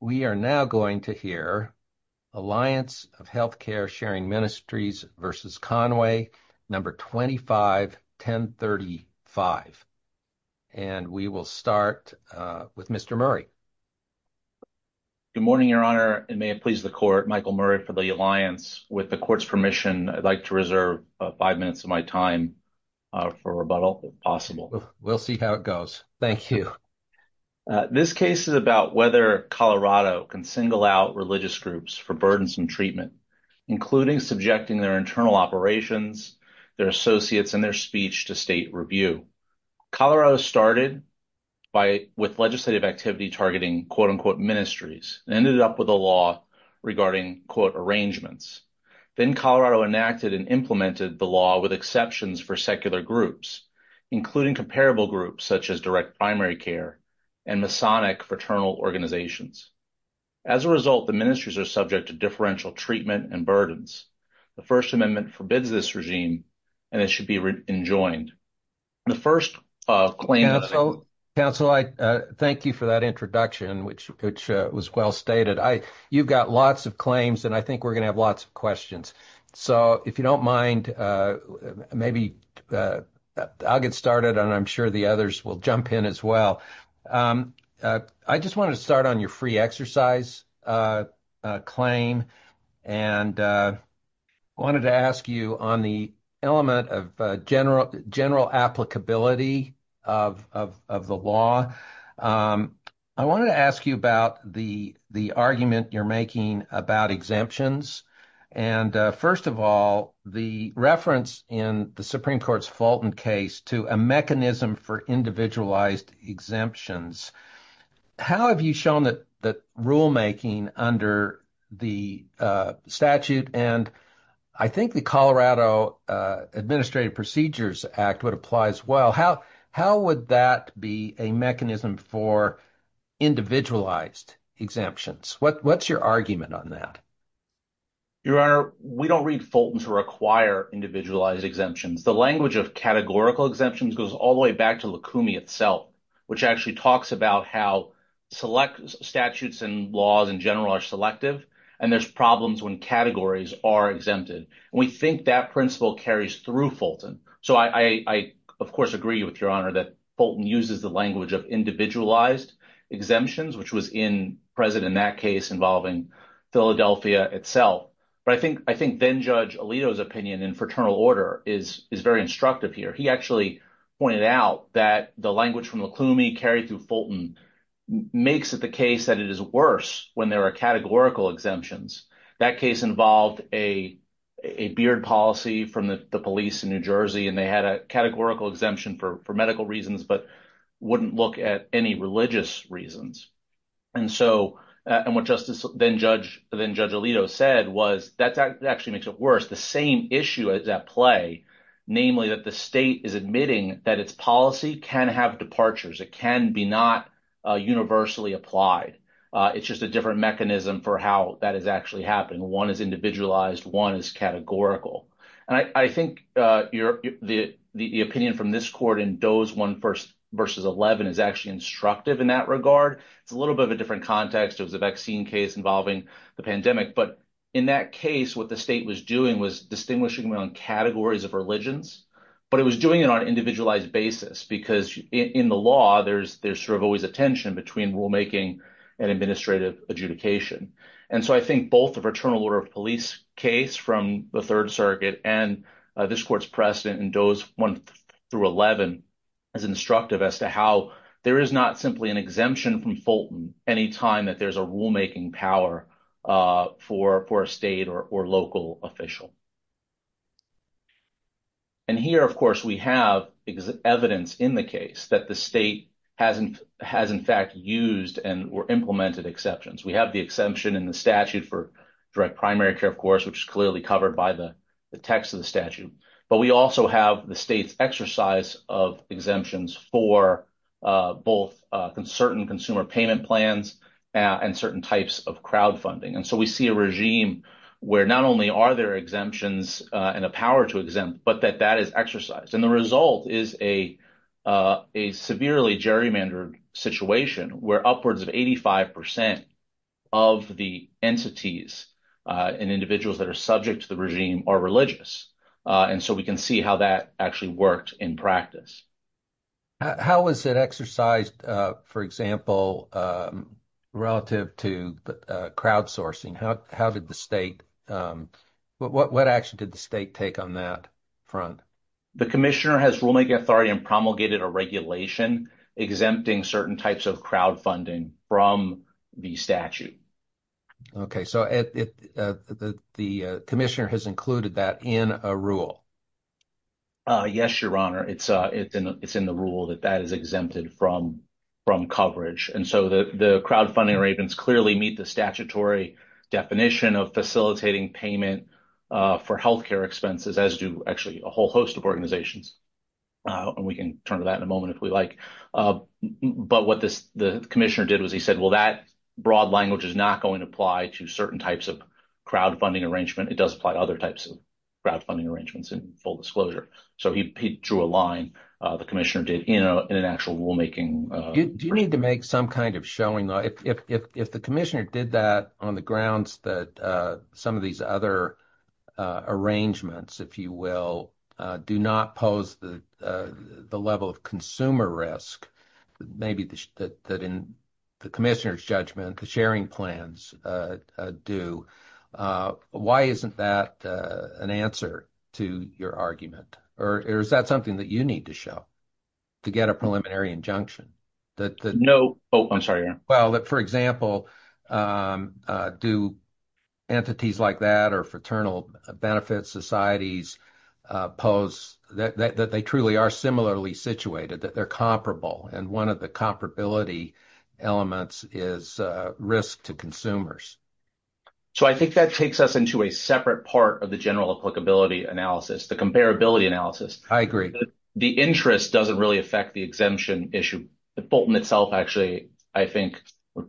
We are now going to hear Alliance of Health Care Sharing Ministries v. Conway, No. 25-1035. And we will start with Mr. Murray. Good morning, Your Honor, and may it please the Court, Michael Murray for the Alliance. With the Court's permission, I'd like to reserve five minutes of my time for rebuttal, if possible. We'll see how it goes. Thank you. This case is about whether Colorado can single out religious groups for burdensome treatment, including subjecting their internal operations, their associates, and their speech to state review. Colorado started with legislative activity targeting quote-unquote ministries and ended up with a law regarding quote arrangements. Then Colorado enacted and implemented the law with exceptions for secular groups, including comparable groups such as direct primary care and Masonic fraternal organizations. As a result, the ministries are subject to differential treatment and burdens. The First Amendment forbids this regime and it should be enjoined. The first claim- Counsel, I thank you for that introduction, which was well stated. You've got lots of I think we're going to have lots of questions. So if you don't mind, maybe I'll get started, and I'm sure the others will jump in as well. I just wanted to start on your free exercise claim and wanted to ask you on the element of general applicability of the law. I wanted to ask you about the argument you're making about exemptions. And first of all, the reference in the Supreme Court's Fulton case to a mechanism for individualized exemptions. How have you shown that rulemaking under the statute? And I think the Colorado Administrative Procedures Act would apply as well. How would that be a mechanism for individualized exemptions? What's your argument on that? Your Honor, we don't read Fulton to require individualized exemptions. The language of categorical exemptions goes all the way back to the Lacumi itself, which actually talks about how select statutes and laws in general are selective. And there's problems when categories are exempted. And we think that principle carries through Fulton. So I, of course, agree with Your Honor that Fulton uses the language of individualized exemptions, which was in present in that case involving Philadelphia itself. But I think then Judge Alito's opinion in fraternal order is very instructive here. He actually pointed out that the language from Lacumi carried through Fulton makes it the case that it is worse when there are categorical exemptions. That case involved a beard policy from the police in New Jersey, and they had a categorical exemption for medical reasons, but wouldn't look at any religious reasons. And what Justice then Judge Alito said was that actually makes it worse. The same issue is at play, namely that the state is admitting that its policy can have departures. It can be not universally applied. It's just a different mechanism for how that is actually happening. One is individualized, one is categorical. And I think the opinion from this court in Doe's 1 v. 11 is actually instructive in that regard. It's a little bit of a different context. It was a vaccine case involving the pandemic. But in that case, what the state was doing was distinguishing around categories of religions, but it was doing it on an individualized basis because in the law, there's always a tension between rulemaking and administrative adjudication. And so I think both the Fraternal Order of Police case from the Third Circuit and this court's precedent in Doe's 1 v. 11 is instructive as to how there is not simply an exemption from Fulton any time that there's a rulemaking power for a state or local official. And here, of course, we have evidence in the case that the state has, in fact, used and implemented exceptions. We have the exemption in the statute for direct primary care, of course, which is clearly covered by the text of the statute. But we also have the state's exercise of exemptions for both certain consumer payment plans and certain types of crowdfunding. And so we see a regime where not only are there exemptions and a power to exempt, but that that is exercised. And the result is a severely gerrymandered situation where upwards of 85% of the entities and individuals that are subject to the regime are religious. And so we can see how that actually worked in practice. How was it exercised, for example, relative to crowdsourcing? What action did the state take on that front? The commissioner has rulemaking authority and promulgated a regulation exempting certain types of crowdfunding from the statute. Okay. So the commissioner has included that in a rule? Yes, Your Honor. It's in the rule that that is exempted from coverage. And so the crowdfunding arrangements clearly meet the statutory definition of facilitating payment for healthcare expenses, as do actually a whole host of organizations. And we can turn to that in a moment if we like. But what the commissioner did was he said, well, that broad language is not going to apply to certain types of crowdfunding arrangement. It does apply to other types of crowdfunding arrangements in full disclosure. So he drew a line, the commissioner did in an actual rulemaking. Do you need to make some kind of showing? If the commissioner did that on the grounds that some of these other arrangements, if you will, do not pose the level of consumer risk, maybe that in the commissioner's judgment, the sharing plans do, why isn't that an answer to your argument? Or is that something that you need to show to get a preliminary injunction? No. Oh, I'm sorry, Your Honor. Well, for example, do entities like that or fraternal benefits societies pose that they truly are similarly situated, that they're comparable, and one of the comparability elements is risk to consumers. So I think that takes us into a separate part of the general applicability analysis, the comparability analysis. I agree. The interest doesn't really affect the exemption issue. Fulton itself actually, I think,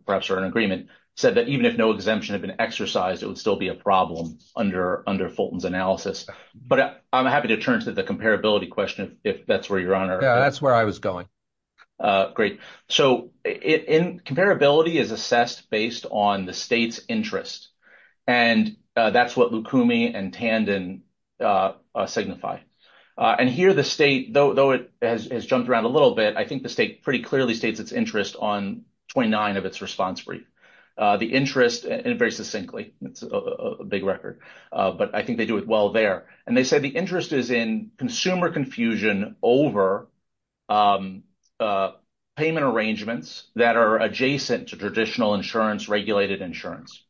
perhaps for an agreement, said that even if no exemption had been exercised, it would still be a problem under Fulton's analysis. But I'm happy to turn to the comparability question if that's where you're on. Yeah, that's where I was going. Great. So comparability is assessed based on the state's interest. And that's what Lukumi and Tandon signify. And here the state, though it has jumped around a little bit, I think the state pretty clearly states its interest on 29 of its response brief. The interest, and very succinctly, it's a big record, but I think they do it well there. And they said the interest is in consumer confusion over payment arrangements that are adjacent to traditional insurance, regulated insurance.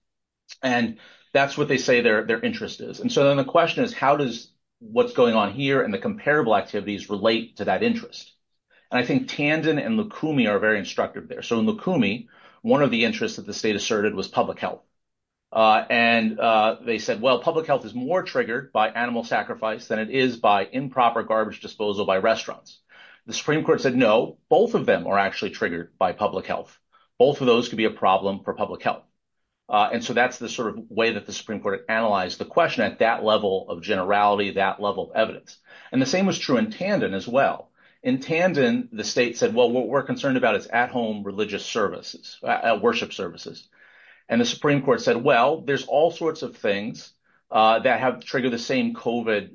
And that's what they say their interest is. And so then the question is, how does what's going on here and the comparable activities relate to that interest? And I think Tandon and Lukumi are very instructive there. So in Lukumi, one of the interests that the state asserted was public health. And they said, well, public health is more triggered by animal sacrifice than it is by improper garbage disposal by restaurants. The Supreme Court said, no, both of them are actually triggered by public health. Both of those could be a problem for public health. And so that's the sort of way that the Supreme Court analyzed the question at that level of generality, that level of evidence. And the same was true in Tandon as well. In Tandon, the state said, well, what we're concerned about is at-home religious services, worship services. And the Supreme Court said, well, there's all sorts of things that have triggered the same COVID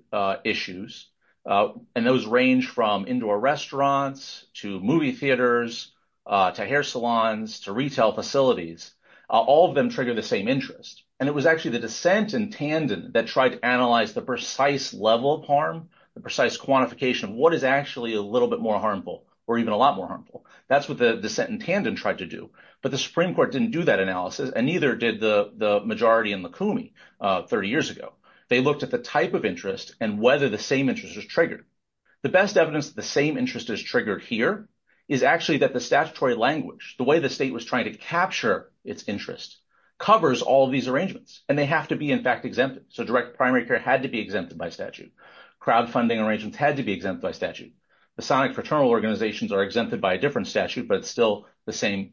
issues. And those range from indoor restaurants to movie theaters, to hair salons, to retail facilities. All of them trigger the same interest. And it was actually the dissent in Tandon that tried to analyze the precise level of harm, the precise quantification of what is actually a little bit more harmful or even a lot more harmful. That's what the dissent in Tandon tried to do. But the Supreme Court didn't do that analysis and neither did the majority in Lukumi 30 years ago. They looked at the type of interest and whether the same interest was triggered. The best evidence that the same interest is triggered here is actually that the statutory language, the way the state was trying to capture its interest, covers all of these arrangements. And they have to be in fact exempted. So direct primary care had to be exempted by statute. Crowdfunding arrangements had to be exempted by statute. Masonic fraternal organizations are exempted by a different statute, but it's still the same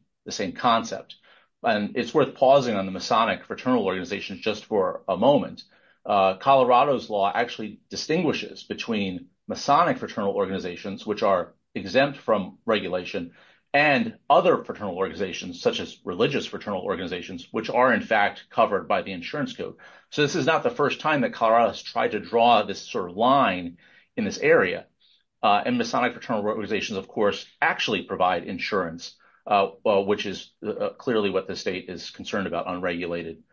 concept. And it's worth pausing on the Masonic fraternal organizations just for a moment. Colorado's law actually distinguishes between Masonic fraternal organizations, which are exempt from regulation, and other fraternal organizations, such as religious fraternal organizations, which are in fact covered by the insurance code. So this is not the first time that Colorado has tried to draw this sort of line in this area. And Masonic fraternal organizations, of course, actually provide insurance, which is clearly what the state is concerned about, unregulated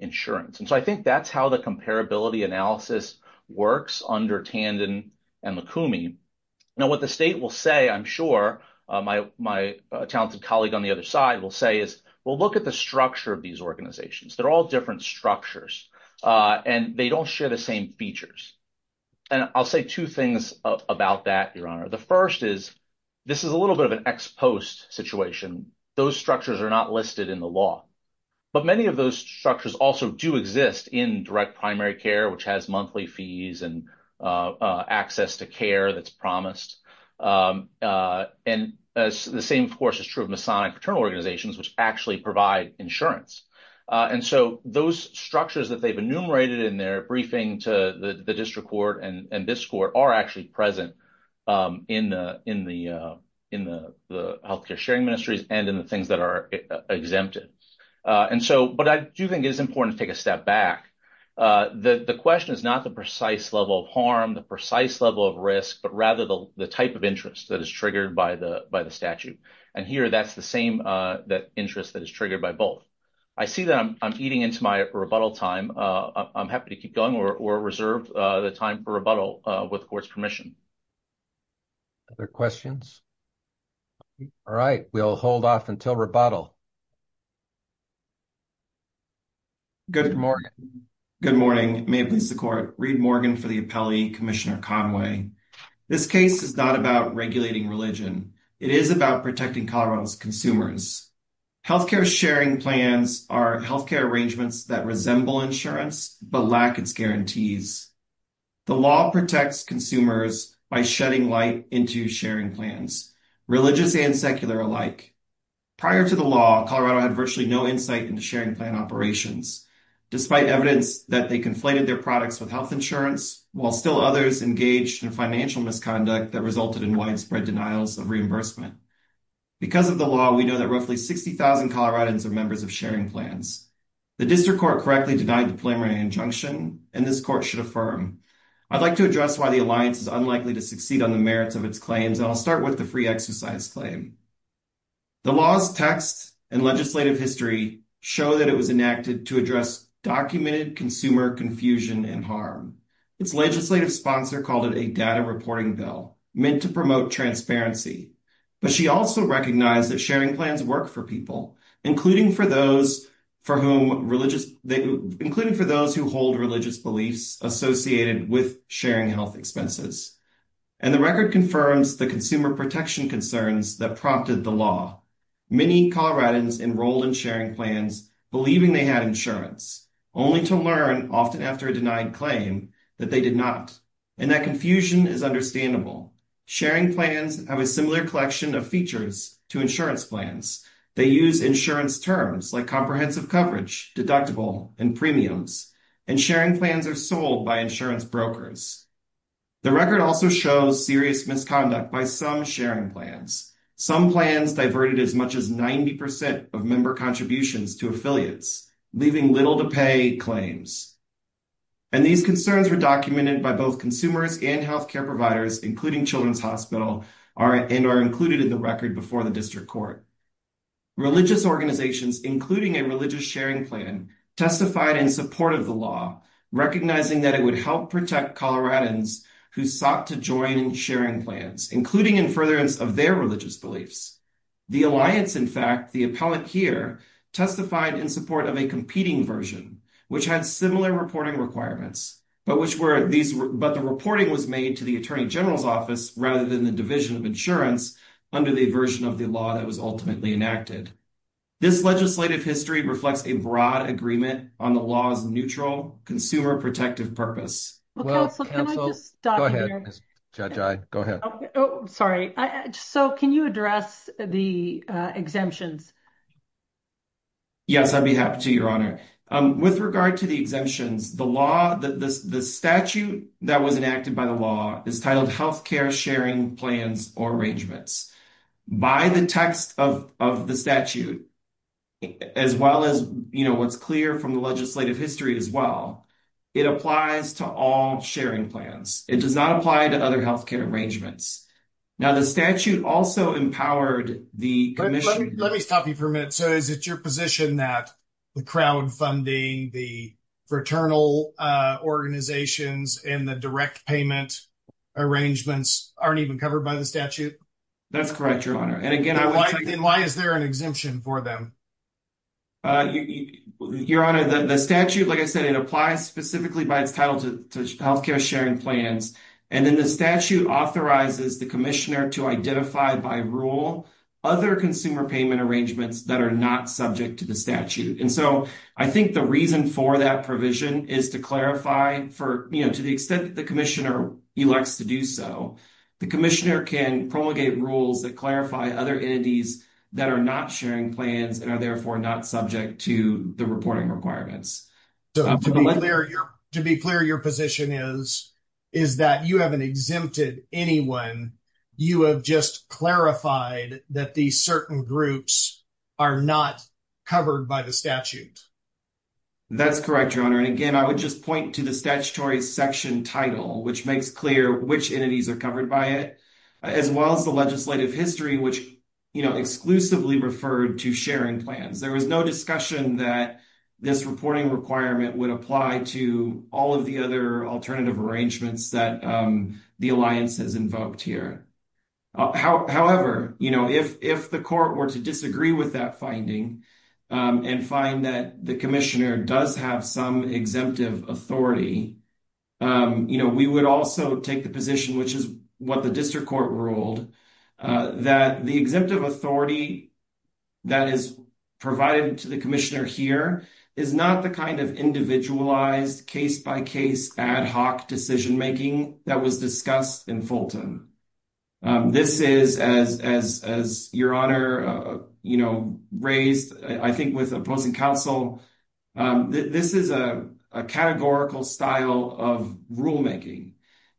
insurance. And so I think that's how the comparability analysis works under Tandon and McCoomey. Now, what the state will say, I'm sure, my talented colleague on the other side will say is, well, look at the structure of these organizations. They're all different structures. And they don't share the same features. And I'll say two things about that, Your Honor. The first is, this is a little bit of an ex post situation. Those structures are not listed in the law. But many of those structures also do exist in direct primary care, which has monthly fees and access to care that's promised. And the same, of course, is true of Masonic fraternal organizations, which actually provide insurance. And so those structures that they've enumerated in their briefing to the district court and this court are actually present in the healthcare sharing ministries and in the things that are exempted. And so what I do think is important to take a step back, the question is not the precise level of harm, the precise level of risk, but rather the type of interest that is triggered by the statute. And here, that's the same interest that is triggered by both. I see that I'm eating into my rebuttal time. I'm happy to keep going or reserve the time for rebuttal with the court's permission. Other questions? All right. We'll hold off until rebuttal. Good morning. Good morning. May it please the court. Reed Morgan for the appellee, Commissioner Conway. This case is not about regulating religion. It is about protecting Colorado's consumers. Healthcare sharing plans are healthcare arrangements that resemble insurance, but lack its guarantees. The law protects consumers by shedding light into sharing plans, religious and secular alike. Prior to the law, Colorado had virtually no insight into sharing plan operations, despite evidence that they conflated their products with health insurance, while still others engaged in financial misconduct that resulted in widespread denials of reimbursement. Because of the law, we know that roughly 60,000 Coloradans are members of sharing plans. The district court correctly denied the plenary injunction and this court should affirm. I'd like to address why the alliance is unlikely to succeed on the merits of its claims, and I'll start with the free exercise claim. The law's text and legislative history show that it was enacted to address documented consumer confusion and harm. Its legislative sponsor called it a data reporting bill meant to promote transparency, but she also recognized that sharing plans work for people, including for those who hold religious beliefs associated with sharing health expenses. And the record confirms the consumer protection concerns that prompted the law. Many Coloradans enrolled in sharing plans believing they had insurance, only to learn, often after a denied claim, that they did not. And that confusion is understandable. Sharing plans have a similar collection of features to insurance plans. They use insurance terms like comprehensive coverage, deductible, and premiums, and sharing plans are sold by insurance brokers. The record also shows serious misconduct by some sharing plans. Some plans diverted as much as 90% of member contributions to affiliates, leaving little to pay claims. And these concerns were documented by both consumers and health care providers, including Children's Hospital, and are included in the record before the district court. Religious organizations, including a religious sharing plan, testified in support of the law, recognizing that it would help protect Coloradans who sought to join in sharing plans, including in furtherance of their religious beliefs. The alliance, in fact, the appellate here, testified in support of a competing version, which had similar reporting requirements, but the reporting was made to the insurance under the version of the law that was ultimately enacted. This legislative history reflects a broad agreement on the law's neutral, consumer-protective purpose. So, can you address the exemptions? Yes, I'd be happy to, Your Honor. With regard to the exemptions, the statute that was enacted by the district court is titled Health Care Sharing Plans or Arrangements. By the text of the statute, as well as what's clear from the legislative history as well, it applies to all sharing plans. It does not apply to other health care arrangements. Now, the statute also empowered the commission. Let me stop you for a minute. So, is it your position that the crowdfunding, the arrangements, aren't even covered by the statute? That's correct, Your Honor. And again, why is there an exemption for them? Your Honor, the statute, like I said, it applies specifically by its title to health care sharing plans. And then the statute authorizes the commissioner to identify by rule other consumer payment arrangements that are not subject to the statute. And so, I think the reason for that provision is to clarify for, you know, to the extent that the district court is able to do so, the commissioner can promulgate rules that clarify other entities that are not sharing plans and are therefore not subject to the reporting requirements. To be clear, your position is that you haven't exempted anyone. You have just clarified that these certain groups are not covered by the statute. That's correct, Your Honor. And again, I would just point to the statutory section title, which makes clear which entities are covered by it, as well as the legislative history, which, you know, exclusively referred to sharing plans. There was no discussion that this reporting requirement would apply to all of the other alternative arrangements that the Alliance has invoked here. However, you know, if the court were to disagree with that finding and find that the commissioner does have some exemptive authority, you know, we would also take the position, which is what the district court ruled, that the exemptive authority that is provided to the commissioner here is not the kind of individualized, case-by-case, ad hoc decision-making that was discussed in Fulton. This is, as your Honor, you know, raised, I think with opposing counsel, this is a categorical style of rulemaking.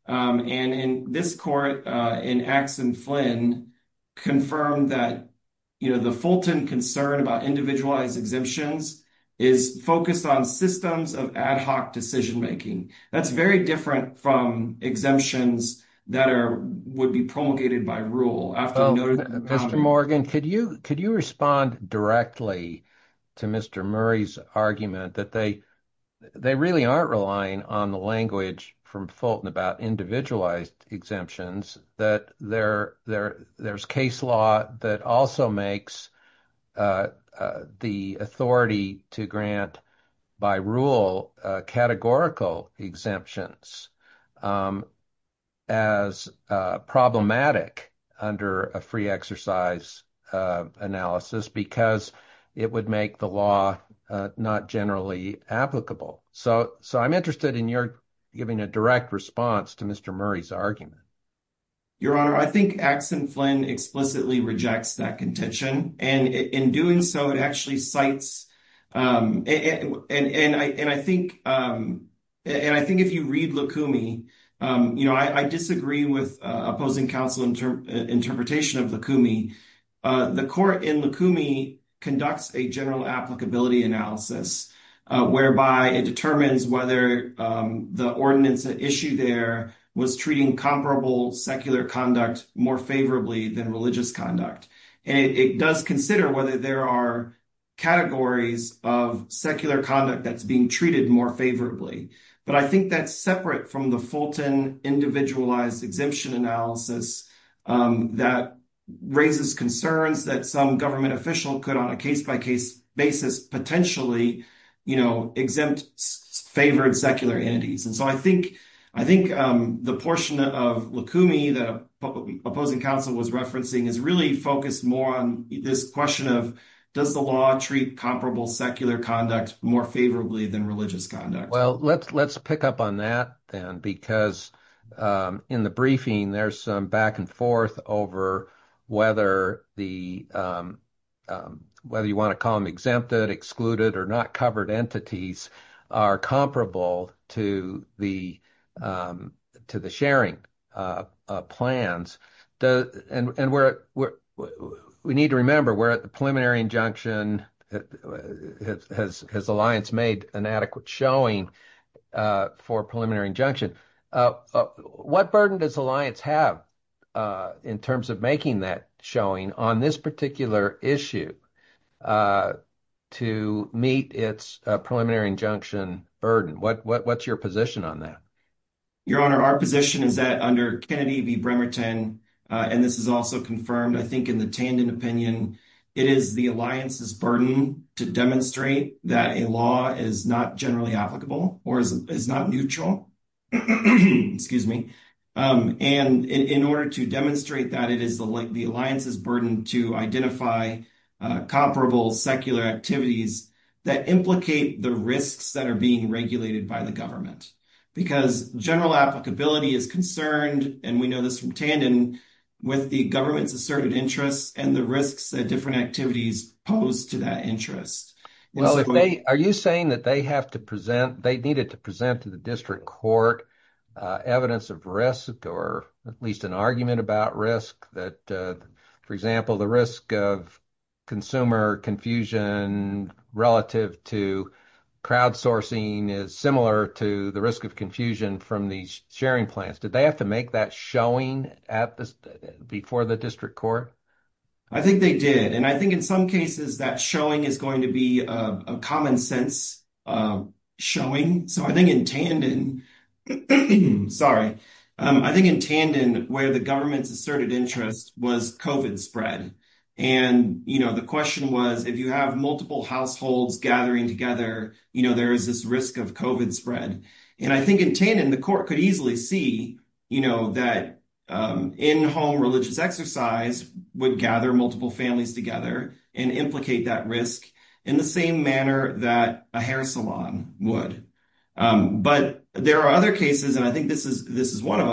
And in this court, in Axe and Flynn, confirmed that, you know, the Fulton concern about individualized exemptions is focused on systems of ad hoc decision-making. That's very different from exemptions that would be promulgated by rule. Mr. Morgan, could you respond directly to Mr. Murray's argument that they really aren't relying on the language from Fulton about individualized exemptions, that there's case law that also makes the authority to grant, by rule, categorical exemptions as problematic under a free exercise analysis because it would make the law not generally applicable? So I'm interested in your giving a direct response to Mr. Murray's argument. Your Honor, I think Axe and Flynn explicitly rejects that contention. And in doing so, it actually cites, and I think if you read Lukumi, you know, I disagree with opposing counsel interpretation of Lukumi. The court in Lukumi conducts a general applicability analysis whereby it determines whether the ordinance at issue there was treating comparable secular conduct more favorably than religious conduct. And it does consider whether there are categories of secular conduct that's being treated more favorably. But I think that's separate from the Fulton individualized exemption analysis that raises concerns that some government official could, on a case-by-case basis, potentially, you know, exempt favored secular entities. And so I think the portion of Lukumi that opposing counsel was referencing is really focused more on this question of does the law treat comparable secular conduct more favorably than religious conduct? Well, let's pick up on that then because in the briefing, there's some back and forth over whether you want to call exempted, excluded, or not covered entities are comparable to the sharing plans. And we need to remember we're at the preliminary injunction. Has Alliance made an adequate showing for preliminary injunction? What burden does Alliance have in terms of making that showing on this particular issue to meet its preliminary injunction burden? What's your position on that? Your Honor, our position is that under Kennedy v. Bremerton, and this is also confirmed I think in the Tandon opinion, it is the Alliance's burden to demonstrate that a law is not generally applicable or is not neutral. Excuse me. And in order to demonstrate that, it is the Alliance's burden to identify comparable secular activities that implicate the risks that are being regulated by the government. Because general applicability is concerned, and we know this from Tandon, with the government's asserted interests and the risks that different activities pose to that interest. Well, are you saying that they have to present, they needed to present to the district court evidence of risk or at least an argument about risk that, for example, the risk of consumer confusion relative to crowdsourcing is similar to the risk of confusion from these sharing plans. Did they have to make that showing before the district court? I think they did. And I think in some cases that showing is going to be a common sense showing. So I think in Tandon, sorry, I think in Tandon where the government's asserted interest was COVID spread. And the question was, if you have multiple households gathering together, there is this risk of COVID spread. And I think in Tandon, the court could see that in-home religious exercise would gather multiple families together and implicate that risk in the same manner that a hair salon would. But there are other cases, and I think this is one of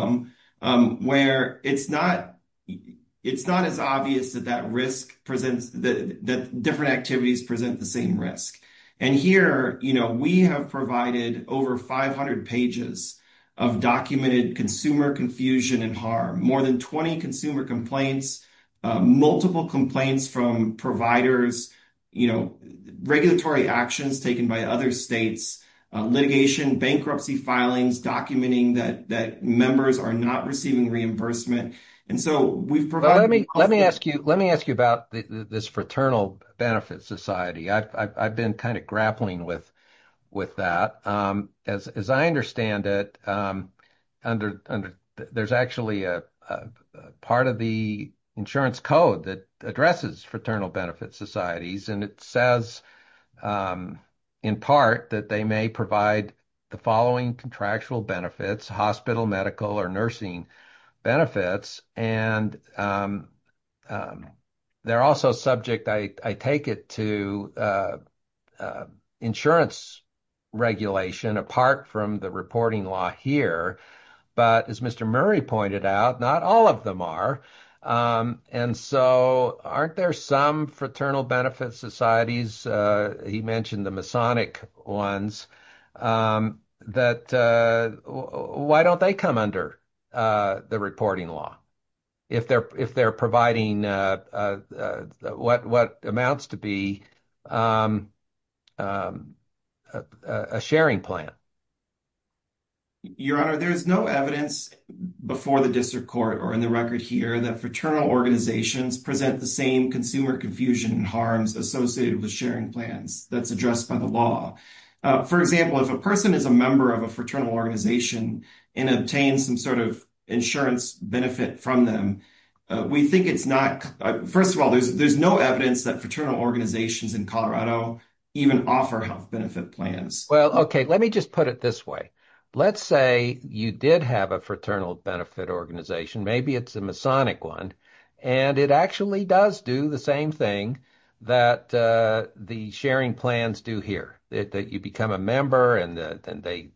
them, where it's not as obvious that that risk presents, that different activities present the same risk. And here, we have provided over 500 pages of documented consumer confusion and harm, more than 20 consumer complaints, multiple complaints from providers, regulatory actions taken by other states, litigation, bankruptcy filings, documenting that members are not receiving reimbursement. And so we've provided- Let me ask you about this fraternal benefit society. I've been kind of grappling with that. As I understand it, there's actually a part of the insurance code that addresses fraternal benefit societies. And it says in part that they may provide the following contractual benefits, hospital, medical, or nursing benefits. And they're also subject, I take it, to insurance regulation, apart from the reporting law here. But as Mr. Murray pointed out, not all of them are. And so aren't there some fraternal benefit societies? He mentioned the Masonic ones. Why don't they come under the reporting law if they're providing what amounts to be a sharing plan? Your Honor, there's no evidence before the district court or in the record here that fraternal organizations present the same consumer confusion and harms associated with sharing plans that's addressed by the law. For example, if a person is a member of a fraternal organization and obtains some sort of insurance benefit from them, we think it's not- First of all, there's no evidence that fraternal organizations in Colorado even offer health benefit plans. Well, okay. Let me just put it this way. Let's say you did have a fraternal benefit organization, maybe it's a Masonic one, and it actually does do the same thing that the sharing plans do here, that you become a member and they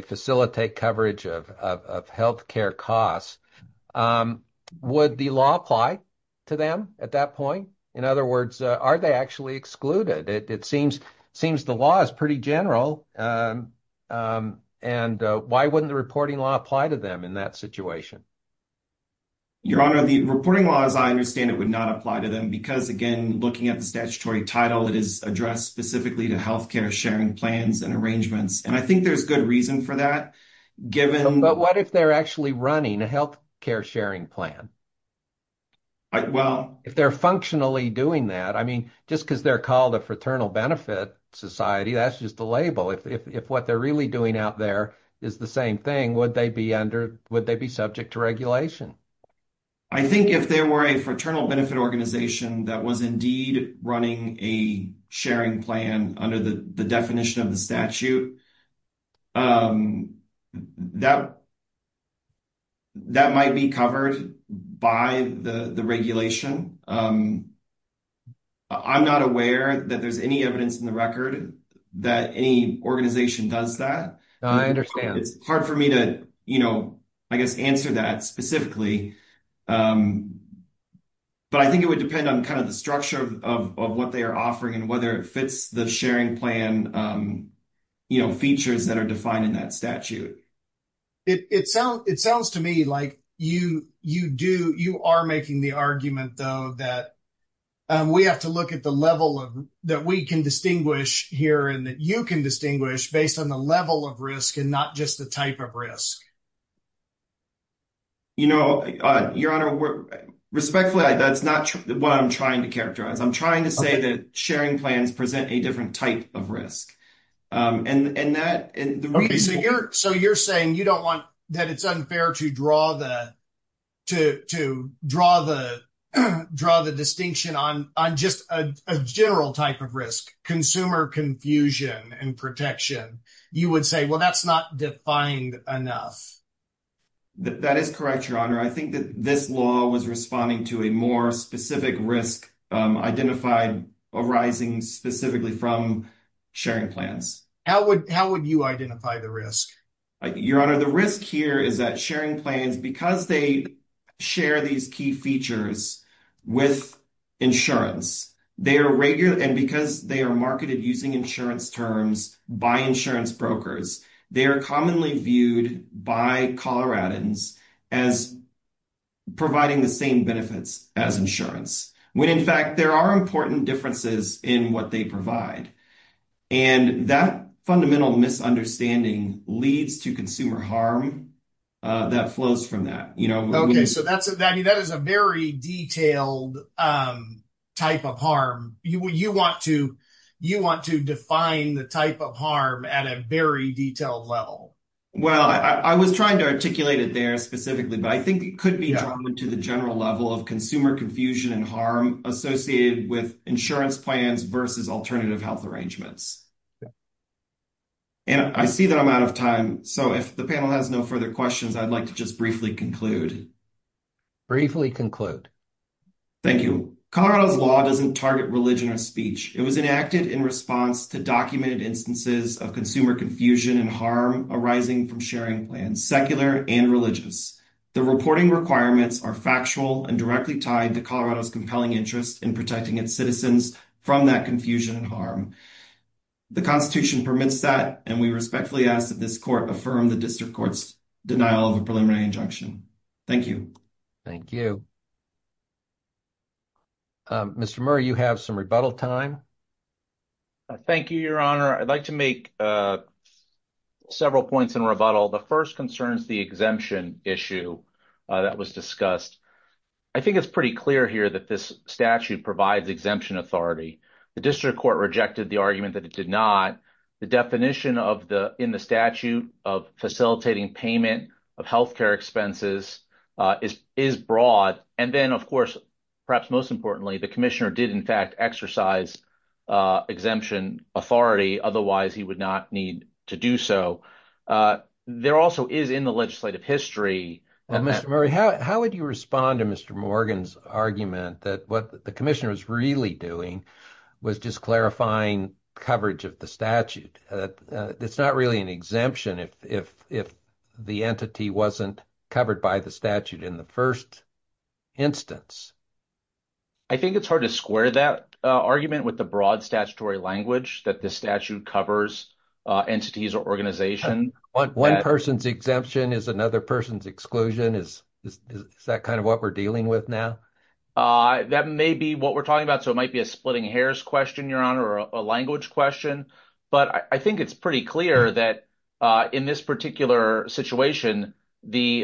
facilitate coverage of health care costs. Would the law apply to them at that point? In other words, are they actually excluded? It seems the law is pretty general. Why wouldn't the reporting law apply to them in that situation? Your Honor, the reporting law, as I understand it, would not apply to them because, again, looking at the statutory title, it is addressed specifically to health care sharing plans and arrangements. I think there's good reason for that, given- But what if they're actually running a health care sharing plan? Well- If they're functionally doing that, just because they're a fraternal benefit society, that's just a label. If what they're really doing out there is the same thing, would they be subject to regulation? I think if there were a fraternal benefit organization that was indeed running a sharing plan under the definition of the statute, that might be covered by the regulation. I'm not aware that there's any evidence in the record that any organization does that. I understand. It's hard for me to, I guess, answer that specifically, but I think it would depend on the structure of what they are offering and whether it fits the sharing plan features that are defined in that statute. It sounds to me like you are making the argument, though, that we have to look at the level that we can distinguish here and that you can distinguish based on the level of risk and not just the type of risk. Your Honor, respectfully, that's not what I'm trying to characterize. I'm trying to say that sharing plans present a different type of risk. Okay, so you're saying you don't want that it's unfair to draw the distinction on just a general type of risk, consumer confusion and protection. You would say, well, that's not defined enough. That is correct, Your Honor. I think that this law was responding to a more specific risk identified arising specifically from sharing plans. How would you identify the risk? Your Honor, the risk here is that sharing plans, because they share these key features with insurance, and because they are marketed using insurance terms by insurance brokers, they are commonly viewed by Coloradans as providing the same benefits as insurance. When, in fact, there are important differences in what they provide, and that fundamental misunderstanding leads to consumer harm that flows from that. Okay, so that is a very detailed type of harm. You want to define the type of harm at a very detailed level. Well, I was trying to articulate it there specifically, but I think it could be drawn to the general level of consumer confusion and harm associated with insurance plans versus alternative health arrangements. And I see that I'm out of time, so if the panel has no further questions, I'd like to just briefly conclude. Briefly conclude. Thank you. Colorado's law doesn't target religion or speech. It was enacted in response to documented instances of consumer confusion and harm arising from sharing plans, secular and religious. The reporting requirements are factual and directly tied to Colorado's compelling interest in protecting its citizens from that confusion and harm. The Constitution permits that, and we respectfully ask that this Court affirm the District Court's denial of a preliminary injunction. Thank you. Thank you. Mr. Murray, you have some rebuttal time. Thank you, Your Honor. I'd like to make several points in rebuttal. The first concerns the exemption issue that was discussed. I think it's pretty clear here that this statute provides exemption authority. The District Court rejected the argument that it did not. The definition in the statute of facilitating payment of health care expenses is broad. And then, of course, perhaps most importantly, the Commissioner did, in fact, exercise exemption authority. Otherwise, he would not need to do so. There also is in the legislative history— Mr. Murray, how would you respond to Mr. Morgan's argument that what the Commissioner was really doing was just clarifying coverage of the statute? It's not really an exemption if the entity wasn't covered by the statute in the first instance. I think it's hard to square that argument with the broad statutory language that this covers entities or organizations. One person's exemption is another person's exclusion. Is that kind of what we're dealing with now? That may be what we're talking about. So it might be a splitting hairs question, Your Honor, or a language question. But I think it's pretty clear that in this particular situation, the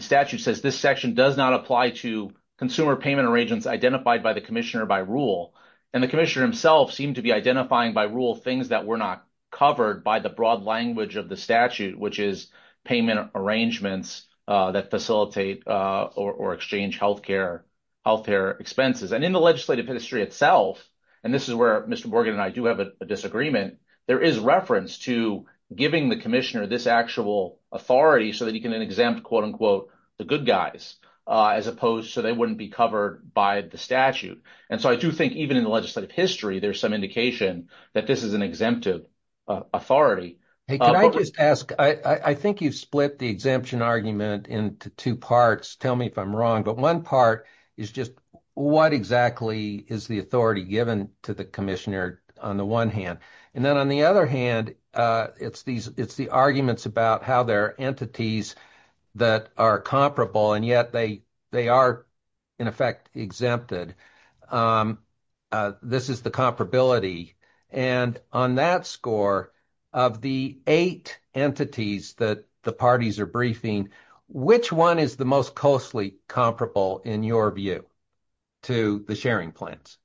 statute says this section does not apply to consumer payment arrangements identified by the Commissioner by rule. And the Commissioner himself seemed to be identifying by rule things that were not covered by the broad language of the statute, which is payment arrangements that facilitate or exchange health care expenses. And in the legislative history itself—and this is where Mr. Morgan and I do have a disagreement— there is reference to giving the Commissioner this actual authority so that he can then exempt, quote-unquote, the good guys, as opposed to they wouldn't be covered by the statute. And so I do think even in the legislative history, there's some indication that this is an exemptive authority. Hey, can I just ask, I think you've split the exemption argument into two parts. Tell me if I'm wrong. But one part is just what exactly is the authority given to the Commissioner on the one hand? And then on the other hand, it's the arguments about how there are entities that are comparable and yet they are, in effect, exempted. This is the comparability. And on that score, of the eight entities that the parties are briefing, which one is the most closely comparable, in your view, to the sharing plans?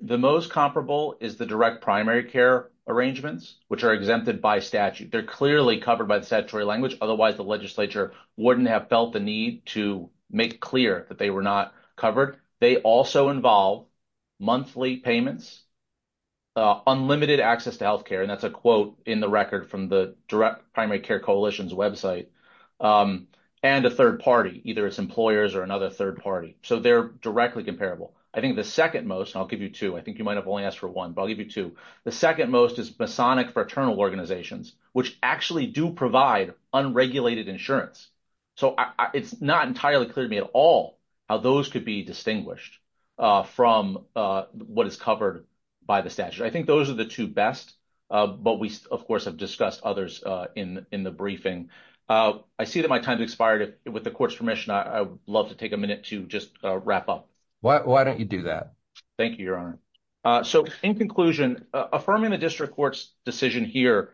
The most comparable is the direct primary care arrangements, which are exempted by statute. They're clearly covered by the statutory language. Otherwise, the legislature wouldn't have felt the need to make clear that they were not covered. They also involve monthly payments, unlimited access to health care, and that's a quote in the record from the direct primary care coalition's website, and a third party, either it's employers or another third party. So they're directly comparable. I think the second most, and I'll give you two, I think you might have only asked for one, but I'll give you two. The second most is Masonic Fraternal Organizations, which actually do provide unregulated insurance. So it's not entirely clear to me at all how those could be distinguished from what is covered by the statute. I think those are the two best, but we, of course, have discussed others in the briefing. I see that my time has expired. With the court's permission, I would love to take a minute to just wrap up. Why don't you do that? Thank you, Your Honor. So in conclusion, affirming the district court's decision here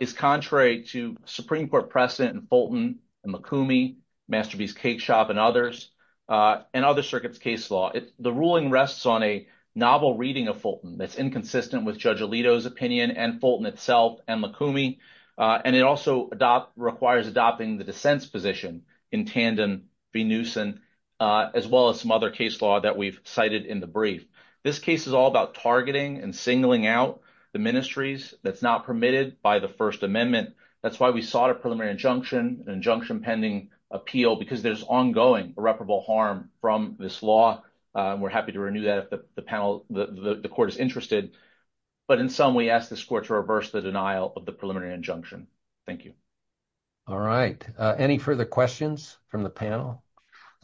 is contrary to Supreme Court precedent in Fulton and McCoomey, Masterpiece Cake Shop, and others, and other circuits' case law. The ruling rests on a novel reading of Fulton that's inconsistent with Judge Alito's opinion and Fulton itself and McCoomey, and it also requires adopting the dissent's position in tandem v. Newsom, as well as some other case law that we've cited in the brief. This case is all about targeting and singling out the ministries that's not permitted by the First Amendment. That's why we sought a preliminary injunction, an injunction-pending appeal, because there's ongoing irreparable harm from this law, and we're happy to renew that if the panel, the court is interested. But in sum, we ask this court to reverse the denial of the preliminary injunction. Thank you. All right. Any further questions from the panel?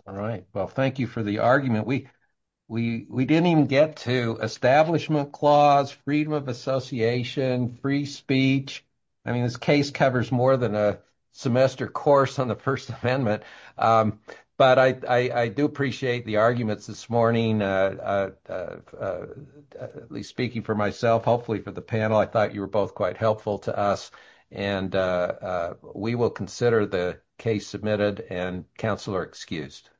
All right. Well, thank you for the argument. We didn't even get to establishment clause, freedom of association, free speech. I mean, this case covers more than a semester course on the First Amendment, but I do appreciate the arguments this morning, at least speaking for myself, hopefully for the panel. I thought you were both quite helpful to us, and we will consider the case submitted, and counsel are excused.